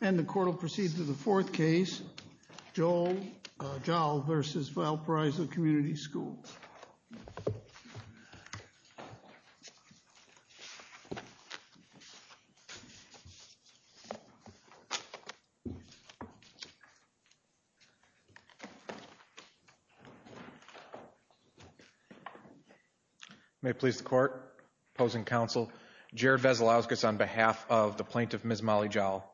And the court will proceed to the fourth case, Joel Joll v. Valparaiso Community Schools. May it please the court, opposing counsel, Jared Vesalauskas on behalf of the plaintiff, Ms. Molly Joll.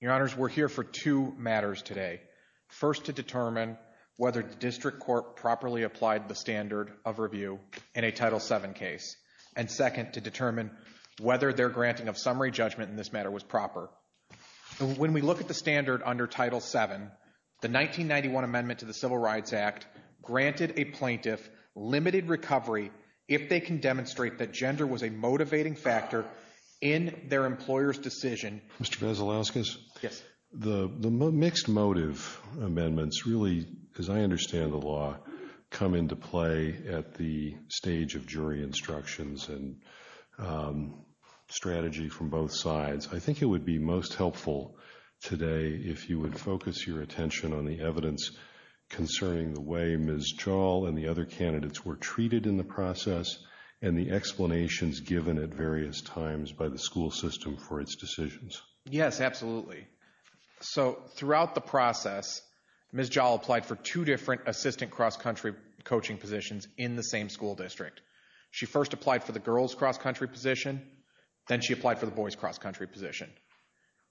Your honors, we're here for two matters today. First, to determine whether the district court properly applied the standard of review in a Title VII case. And second, to determine whether their granting of summary judgment in this matter was proper. When we look at the standard under Title VII, the 1991 amendment to the Civil Rights Act granted a plaintiff limited recovery if they can demonstrate that gender was a motivating factor in their employer's decision. Mr. Vesalauskas? Yes. The mixed motive amendments really, as I understand the law, come into play at the stage of jury instructions and strategy from both sides. I think it would be most helpful today if you would focus your attention on the evidence concerning the way Ms. Joll and the other candidates were treated in the process and the explanations given at various times by the school system for its decisions. Yes, absolutely. So throughout the process, Ms. Joll applied for two different assistant cross-country coaching positions in the same school district. She first applied for the girls' cross-country position, then she applied for the boys' cross-country position.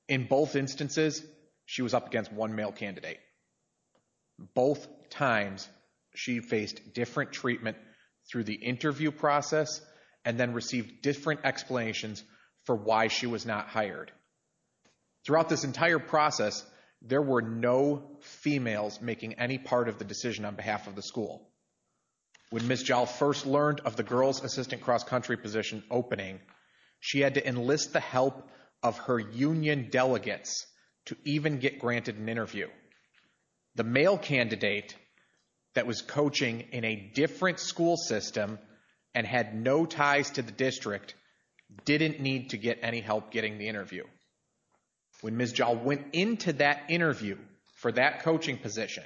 In both instances, she was up against one male candidate. Both times, she faced different treatment through the interview process and then received different explanations for why she was not hired. Throughout this entire process, there were no females making any part of the decision on behalf of the school. When Ms. Joll first learned of the girls' assistant cross-country position opening, she had to enlist the help of her union delegates to even get granted an interview. The male candidate that was coaching in a different school system and had no ties to the district didn't need to get any help getting the interview. When Ms. Joll went into that interview for that coaching position,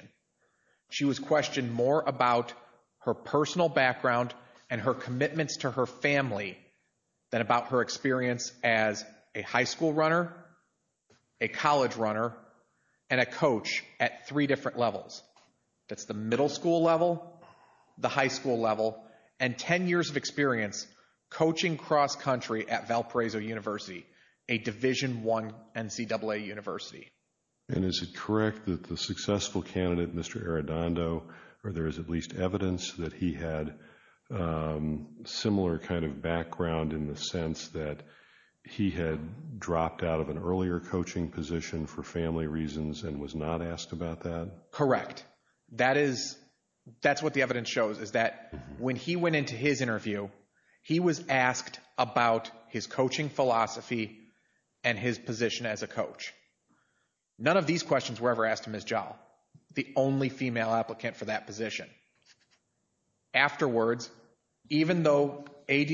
she was questioned more about her personal background and her commitments to her family than about her experience as a high school runner, a college runner, and a coach at three different levels. That's the middle school level, the high school level, and 10 years of experience coaching cross-country at Valparaiso University, a Division I NCAA university. And is it correct that the successful candidate, Mr. Arradondo, or there is at least evidence that he had similar kind of background in the sense that he had dropped out of an earlier coaching position for family reasons and was not asked about that? Correct, that is, that's what the evidence shows is that when he went into his interview, he was asked about his coaching philosophy and his position as a coach. None of these questions were ever asked to Ms. Joll, the only female applicant for that position. Afterwards, even though AD,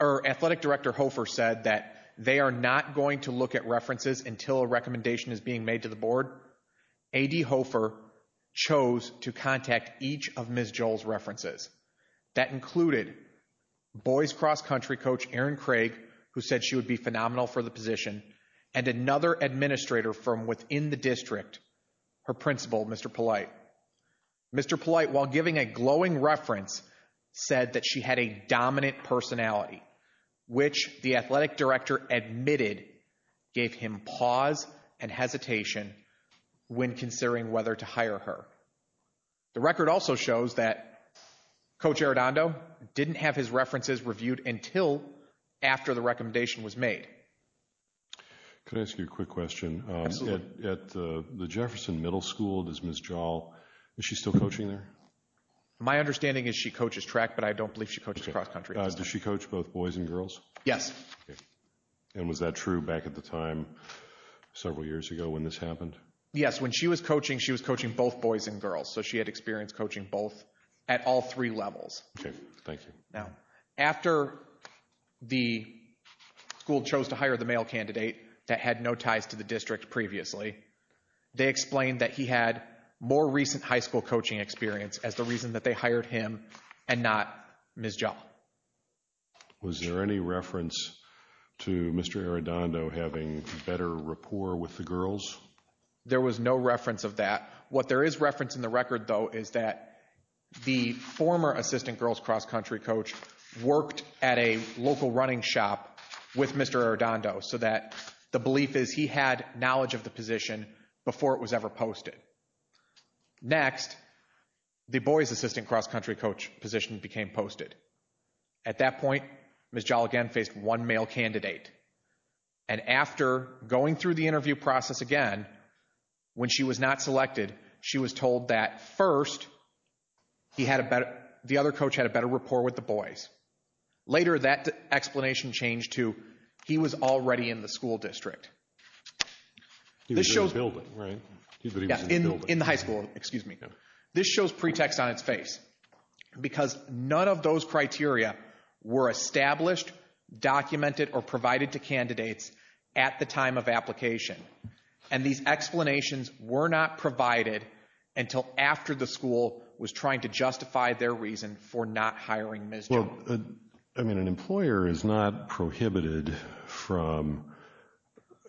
or Athletic Director Hofer said that they are not going to look at references until a recommendation is being made to the board, AD Hofer chose to contact each of Ms. Joll's references. That included boys cross-country coach, Erin Craig, who said she would be phenomenal for the position, and another administrator from within the district, her principal, Mr. Polite. Mr. Polite, while giving a glowing reference, said that she had a dominant personality, which the Athletic Director admitted gave him pause and hesitation when considering whether to hire her. The record also shows that Coach Arradondo didn't have his references reviewed until after the recommendation was made. Could I ask you a quick question? Absolutely. At the Jefferson Middle School, does Ms. Joll, is she still coaching there? My understanding is she coaches track, but I don't believe she coaches cross-country. Does she coach both boys and girls? Yes. And was that true back at the time, several years ago when this happened? Yes, when she was coaching, she was coaching both boys and girls, so she had experience coaching both at all three levels. Okay, thank you. After the school chose to hire the male candidate that had no ties to the district previously, they explained that he had more recent high school coaching experience as the reason that they hired him and not Ms. Joll. Was there any reference to Mr. Arradondo having better rapport with the girls? There was no reference of that. What there is reference in the record, though, is that the former assistant girls cross-country coach worked at a local running shop with Mr. Arradondo so that the belief is he had knowledge of the position before it was ever posted. Next, the boys' assistant cross-country coach position became posted. At that point, Ms. Joll again faced one male candidate. And after going through the interview process again, when she was not selected, she was told that first, the other coach had a better rapport with the boys. Later, that explanation changed to he was already in the school district. This shows- He was in the building, right? Yeah, in the high school, excuse me. This shows pretext on its face because none of those criteria were established, documented, or provided to candidates at the time of application. And these explanations were not provided until after the school was trying to justify their reason for not hiring Ms. Joll. I mean, an employer is not prohibited from,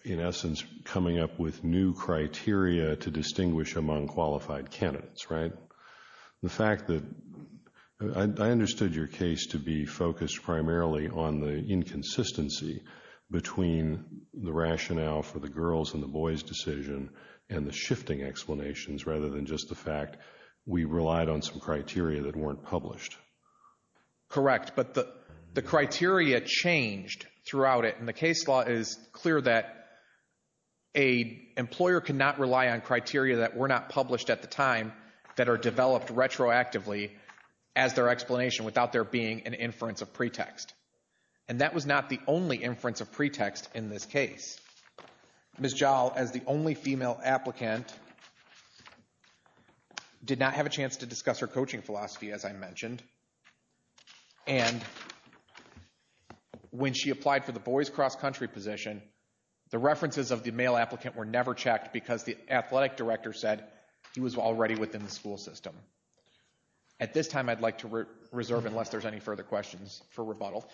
in essence, coming up with new criteria to distinguish among qualified candidates, right? The fact that- I understood your case to be focused primarily on the inconsistency between the rationale for the girls' and the boys' decision and the shifting explanations rather than just the fact we relied on some criteria that weren't published. Correct, but the criteria changed throughout it. And the case law is clear that a employer cannot rely on criteria that were not published at the time that are developed retroactively as their explanation without there being an inference of pretext. And that was not the only inference of pretext in this case. Ms. Joll, as the only female applicant, did not have a chance to discuss her coaching philosophy, as I mentioned. And when she applied for the boys' cross-country position, the references of the male applicant were never checked because the athletic director said he was already within the school system. At this time, I'd like to reserve, unless there's any further questions, for rebuttal.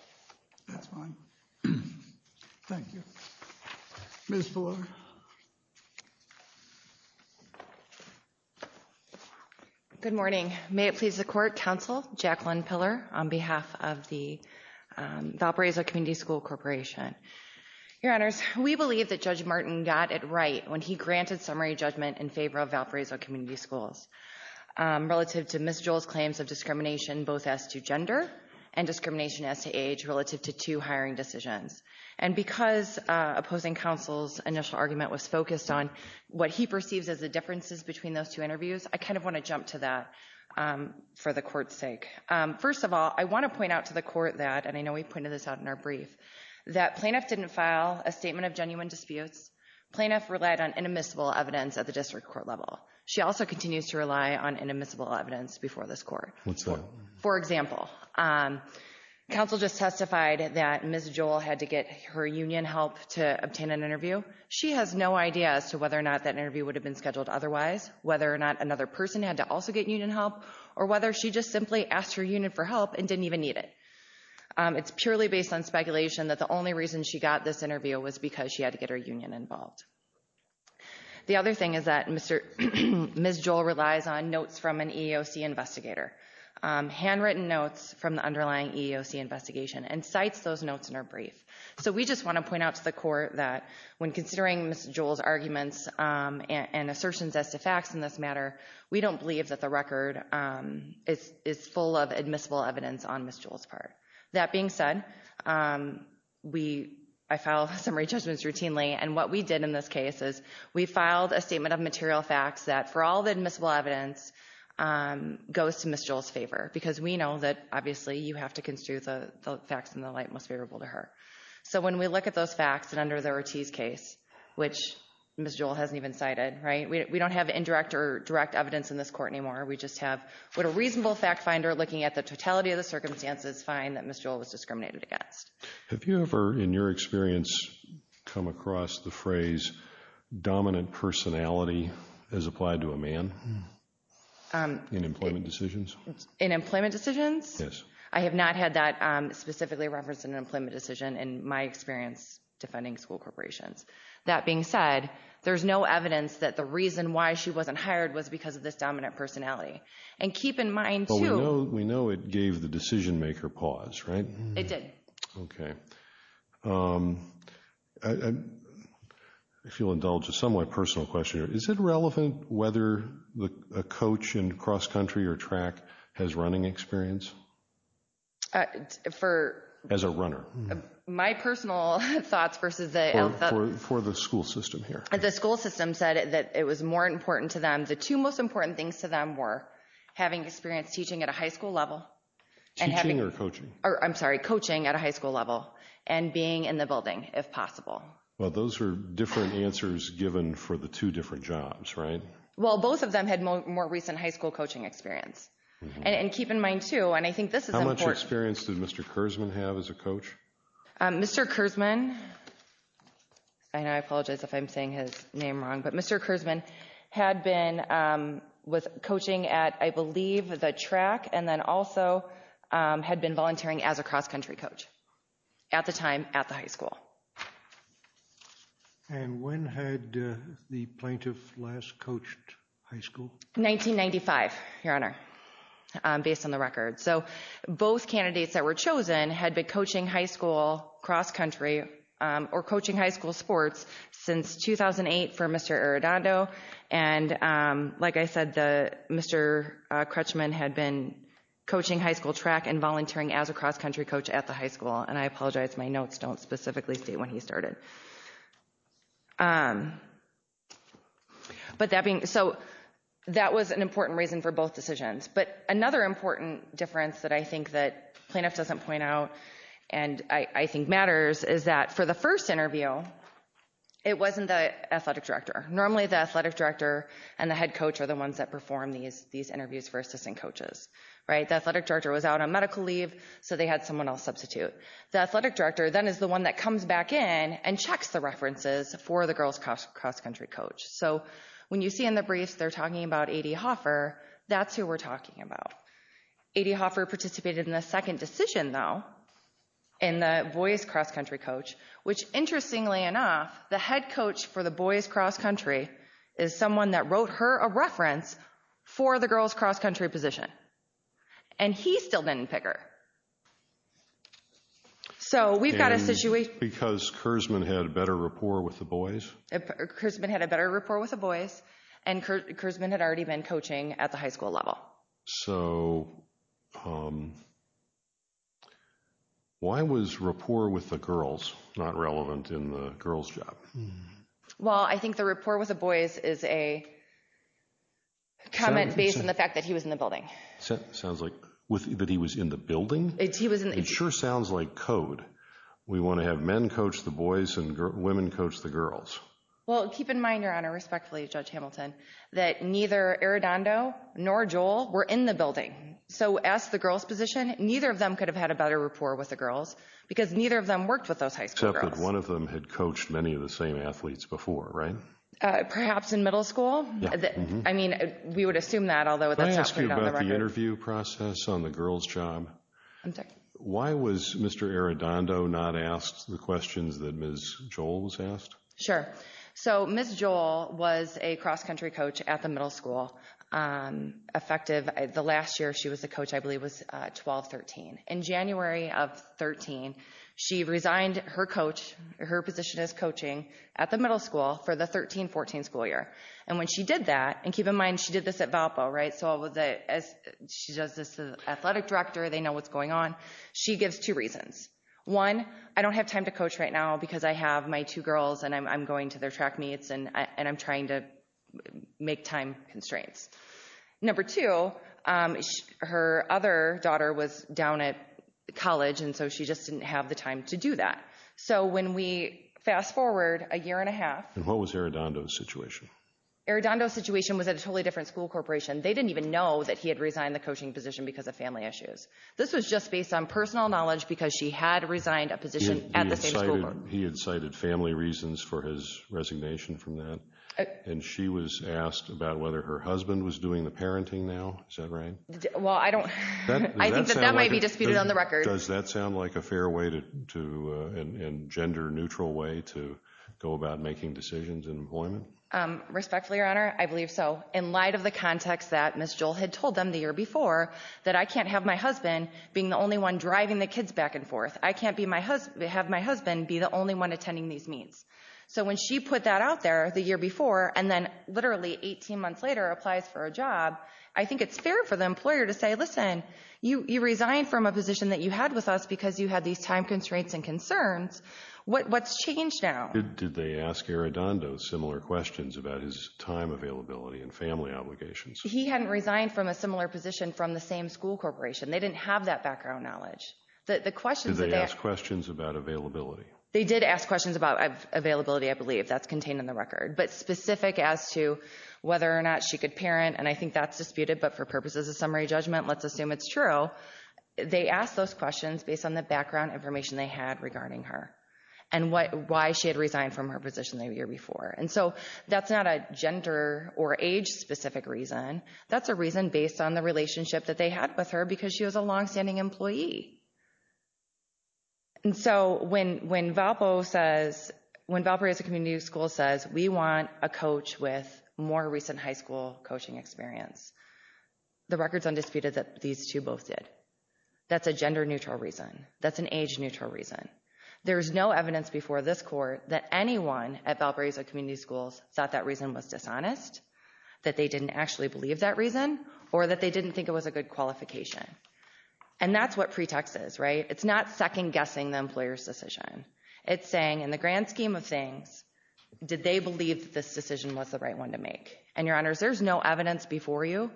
That's fine. Thank you. Ms. Ballard. Good morning. May it please the Court, Counsel Jacqueline Piller on behalf of the Valparaiso Community School Corporation. Your Honors, we believe that Judge Martin got it right when he granted summary judgment in favor of Valparaiso Community Schools relative to Ms. Joll's claims of discrimination both as to gender and discrimination as to age relative to two hiring decisions. And because opposing counsel's initial argument was focused on what he perceives as the differences between those two interviews, I kind of want to jump to that for the Court's sake. First of all, I want to point out to the Court that, and I know we've pointed this out in our brief, that plaintiff didn't file a statement of genuine disputes. Plaintiff relied on inadmissible evidence at the district court level. She also continues to rely on inadmissible evidence before this Court. What's that? For example, counsel just testified that Ms. Joll had to get her union help to obtain an interview. She has no idea as to whether or not that interview would have been scheduled otherwise, whether or not another person had to also get union help, or whether she just simply asked her union for help and didn't even need it. It's purely based on speculation that the only reason she got this interview was because she had to get her union involved. The other thing is that Ms. Joll relies on notes from an EEOC investigator, handwritten notes from the underlying EEOC investigation, and cites those notes in her brief. So we just want to point out to the Court that when considering Ms. Joll's arguments and assertions as to facts in this matter, we don't believe that the record is full of admissible evidence on Ms. Joll's part. That being said, I file summary judgments routinely, and what we did in this case is we filed a statement of material facts that for all the admissible evidence goes to Ms. Joll's favor, because we know that obviously you have to construe the facts in the light most favorable to her. So when we look at those facts, and under the Ortiz case, which Ms. Joll hasn't even cited, right? We don't have indirect or direct evidence in this Court anymore. We just have what a reasonable fact finder looking at the totality of the circumstances find that Ms. Joll was discriminated against. Have you ever, in your experience, come across the phrase dominant personality as applied to a man in employment decisions? In employment decisions? Yes. I have not had that specifically referenced in an employment decision, and in my experience defending school corporations. That being said, there's no evidence that the reason why she wasn't hired was because of this dominant personality. And keep in mind, too- We know it gave the decision maker pause, right? It did. Okay. If you'll indulge a somewhat personal question here, is it relevant whether a coach in cross-country or track has running experience? For- My personal thoughts versus the- For the school system here. The school system said that it was more important to them. The two most important things to them were having experience teaching at a high school level. Teaching or coaching? I'm sorry, coaching at a high school level and being in the building, if possible. Well, those are different answers given for the two different jobs, right? Well, both of them had more recent high school coaching experience. And keep in mind, too, and I think this is important- Mr. Kersman, and I apologize if I'm saying his name wrong, but Mr. Kersman had been coaching at, I believe, the track and then also had been volunteering as a cross-country coach at the time at the high school. And when had the plaintiff last coached high school? 1995, Your Honor, based on the record. So both candidates that were chosen had been coaching high school cross-country or coaching high school sports since 2008 for Mr. Arredondo. And like I said, Mr. Kersman had been coaching high school track and volunteering as a cross-country coach at the high school. And I apologize, my notes don't specifically state when he started. But that being, so that was an important reason for both decisions. But another important difference that I think that plaintiff doesn't point out and I think matters is that for the first interview, it wasn't the athletic director. Normally the athletic director and the head coach are the ones that perform these interviews for assistant coaches, right? The athletic director was out on medical leave, so they had someone else substitute. The athletic director then is the one that comes back in and checks the references for the girls cross-country coach. So when you see in the briefs, they're talking about A.D. Hoffer, that's who we're talking about. A.D. Hoffer participated in the second decision though, in the boys cross-country coach, which interestingly enough, the head coach for the boys cross-country is someone that wrote her a reference for the girls cross-country position. And he still didn't pick her. So we've got a situation. Because Kersman had a better rapport with the boys? Kersman had a better rapport with the boys and Kersman had already been coaching at the high school level. So, why was rapport with the girls not relevant in the girls' job? Well, I think the rapport with the boys is a comment based on the fact that he was in the building. Sounds like, that he was in the building? He was in the- It sure sounds like code. We wanna have men coach the boys and women coach the girls. Well, keep in mind, Your Honor, respectfully, Judge Hamilton, that neither Arredondo nor Joel were in the building. So, as the girls' position, neither of them could have had a better rapport with the girls because neither of them worked with those high school girls. Except that one of them had coached many of the same athletes before, right? Perhaps in middle school. I mean, we would assume that, although that's not- Let me ask you about the interview process on the girls' job. Why was Mr. Arredondo not asked the questions that Ms. Joel was asked? Sure. So, Ms. Joel was a cross-country coach at the middle school. Effective, the last year she was a coach, I believe, was 12-13. In January of 13, she resigned her coach, her position as coaching, at the middle school for the 13-14 school year. And when she did that, and keep in mind, she did this at Valpo, right? So, she does this to the athletic director, they know what's going on. She gives two reasons. One, I don't have time to coach right now because I have my two girls and I'm going to their track meets and I'm trying to make time constraints. Number two, her other daughter was down at college and so she just didn't have the time to do that. So, when we fast forward a year and a half- And what was Arredondo's situation? Arredondo's situation was at a totally different school corporation. They didn't even know that he had resigned the coaching position because of family issues. This was just based on personal knowledge because she had resigned a position at the same school board. He had cited family reasons for his resignation from that. And she was asked about whether her husband was doing the parenting now. Is that right? Well, I don't- I think that that might be disputed on the record. Does that sound like a fair way to, and gender neutral way to go about making decisions in employment? Respectfully, Your Honor, I believe so. In light of the context that Ms. Joel had told them the year before, that I can't have my husband being the only one driving the kids back and forth. I can't have my husband be the only one attending these meets. So when she put that out there the year before, and then literally 18 months later applies for a job, I think it's fair for the employer to say, listen, you resigned from a position that you had with us because you had these time constraints and concerns. What's changed now? Did they ask Arredondo similar questions about his time availability and family obligations? He hadn't resigned from a similar position from the same school corporation. They didn't have that background knowledge. The questions that they asked. Did they ask questions about availability? They did ask questions about availability, I believe. That's contained in the record. But specific as to whether or not she could parent, and I think that's disputed, but for purposes of summary judgment, let's assume it's true, they asked those questions based on the background information they had regarding her, and why she had resigned from her position the year before. And so that's not a gender or age specific reason. That's a reason based on the relationship that they had with her because she was a longstanding employee. And so when Valparaiso Community School says, we want a coach with more recent high school coaching experience, the record's undisputed that these two both did. That's a gender neutral reason. That's an age neutral reason. There's no evidence before this court that anyone at Valparaiso Community Schools thought that reason was dishonest, that they didn't actually believe that reason, or that they didn't think it was a good qualification. And that's what pretext is, right? It's not second guessing the employer's decision. It's saying in the grand scheme of things, did they believe this decision was the right one to make? And your honors, there's no evidence before you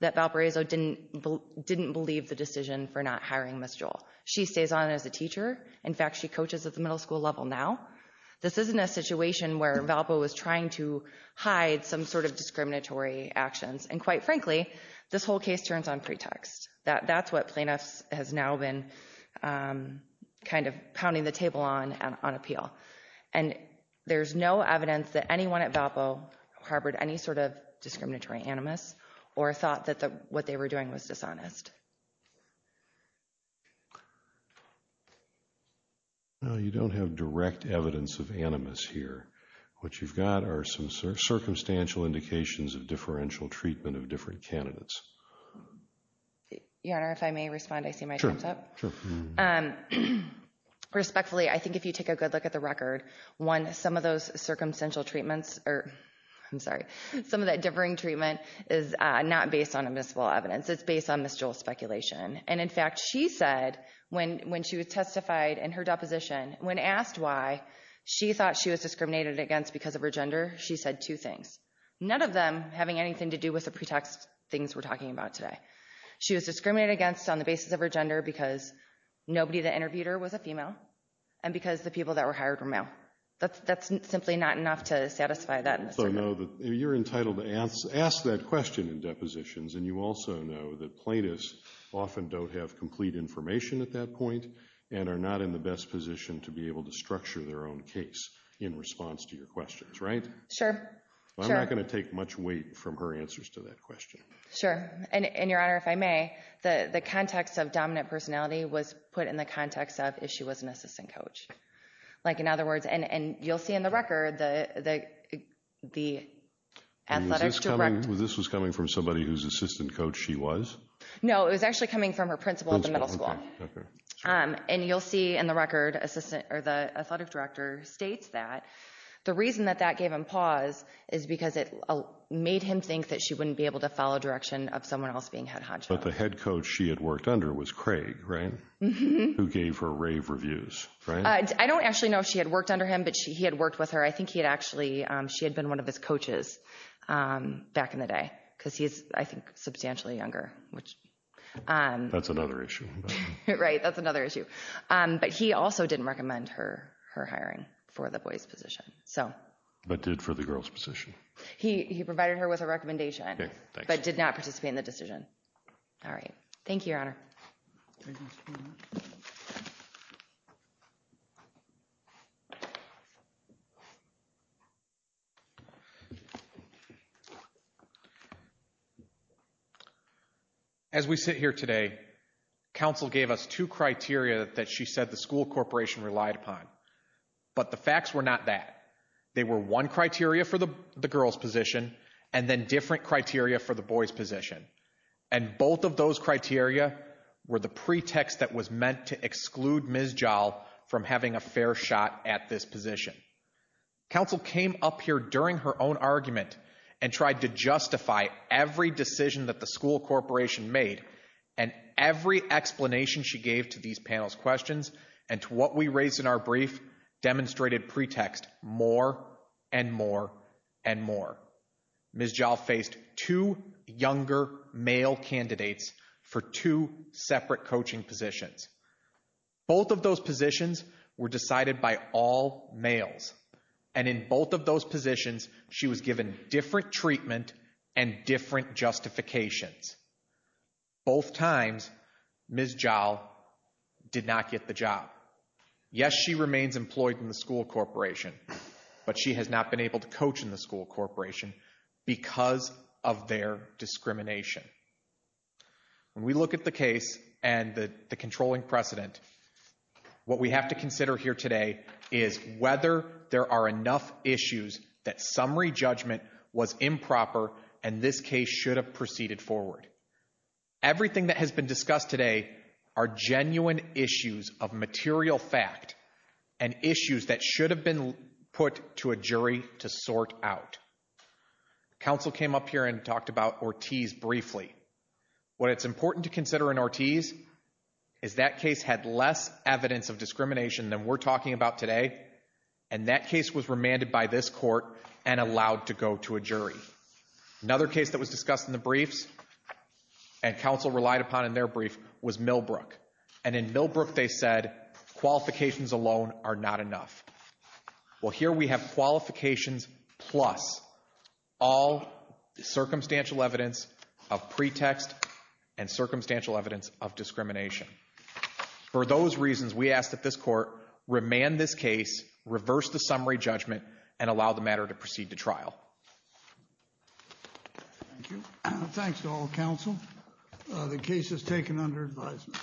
that Valparaiso didn't believe the decision for not hiring Ms. Joel. She stays on as a teacher. In fact, she coaches at the middle school level now. This isn't a situation where Valpo was trying to hide some sort of discriminatory actions. And quite frankly, this whole case turns on pretext. That's what plaintiffs has now been kind of pounding the table on on appeal. And there's no evidence that anyone at Valpo harbored any sort of discriminatory animus or thought that what they were doing was dishonest. No, you don't have direct evidence of animus here. What you've got are some circumstantial indications of differential treatment of different candidates. Your honor, if I may respond, I see my time's up. Sure, sure. Respectfully, I think if you take a good look at the record, one, some of those circumstantial treatments, or I'm sorry, some of that differing treatment is not based on admissible evidence. It's based on Ms. Joel's speculation. And in fact, she said when she was testified in her deposition, when asked why she thought she was discriminated against because of her gender, she said two things. None of them having anything to do with the pretext things we're talking about today. She was discriminated against on the basis of her gender because nobody that interviewed her was a female and because the people that were hired were male. That's simply not enough to satisfy that. So no, you're entitled to ask that question in depositions. And you also know that plaintiffs often don't have complete information at that point and are not in the best position to be able to structure their own case in response to your questions, right? Sure, sure. Well, I'm not going to take much weight from her answers to that question. Sure, and Your Honor, if I may, the context of dominant personality was put in the context of if she was an assistant coach. Like, in other words, and you'll see in the record, the athletic director. This was coming from somebody whose assistant coach she was? No, it was actually coming from her principal at the middle school. Okay, okay. And you'll see in the record, the athletic director states that the reason that that gave him pause is because it made him think that she wouldn't be able to follow direction of someone else being head honcho. But the head coach she had worked under was Craig, right? Who gave her rave reviews, right? I don't actually know if she had worked under him, but he had worked with her. I think he had actually, she had been one of his coaches back in the day, because he's, I think, substantially younger, which... That's another issue. Right, that's another issue. But he also didn't recommend her hiring for the boys' position, so. But did for the girls' position? He provided her with a recommendation, but did not participate in the decision. All right, thank you, Your Honor. As we sit here today, counsel gave us two criteria that she said the school corporation relied upon. But the facts were not that. They were one criteria for the girls' position, and then different criteria for the boys' position. And both of those criteria were the pretext that was meant to exclude Ms. Jahl from having a fair shot at this position. Counsel came up here during her own argument and tried to justify every decision that the school corporation made, and every explanation she gave to these panel's questions, and to what we raised in our brief, demonstrated pretext more and more and more. Ms. Jahl faced two younger male candidates for two separate coaching positions. Both of those positions were decided by all males. And in both of those positions, she was given different treatment and different justifications. Both times, Ms. Jahl did not get the job. Yes, she remains employed in the school corporation, but she has not been able to coach in the school corporation because of their discrimination. When we look at the case and the controlling precedent, what we have to consider here today is whether there are enough issues that summary judgment was improper and this case should have proceeded forward. Everything that has been discussed today are genuine issues of material fact and issues that should have been put to a jury to sort out. Counsel came up here and talked about Ortiz briefly. What it's important to consider in Ortiz is that case had less evidence of discrimination than we're talking about today, and allowed to go to a jury. Another case that was discussed in the briefs and counsel relied upon in their brief was Millbrook. And in Millbrook, they said, qualifications alone are not enough. Well, here we have qualifications plus all circumstantial evidence of pretext and circumstantial evidence of discrimination. For those reasons, we ask that this court remand this case, reverse the summary judgment, and allow the matter to proceed to trial. Thank you. Thanks to all counsel. The case is taken under advisement.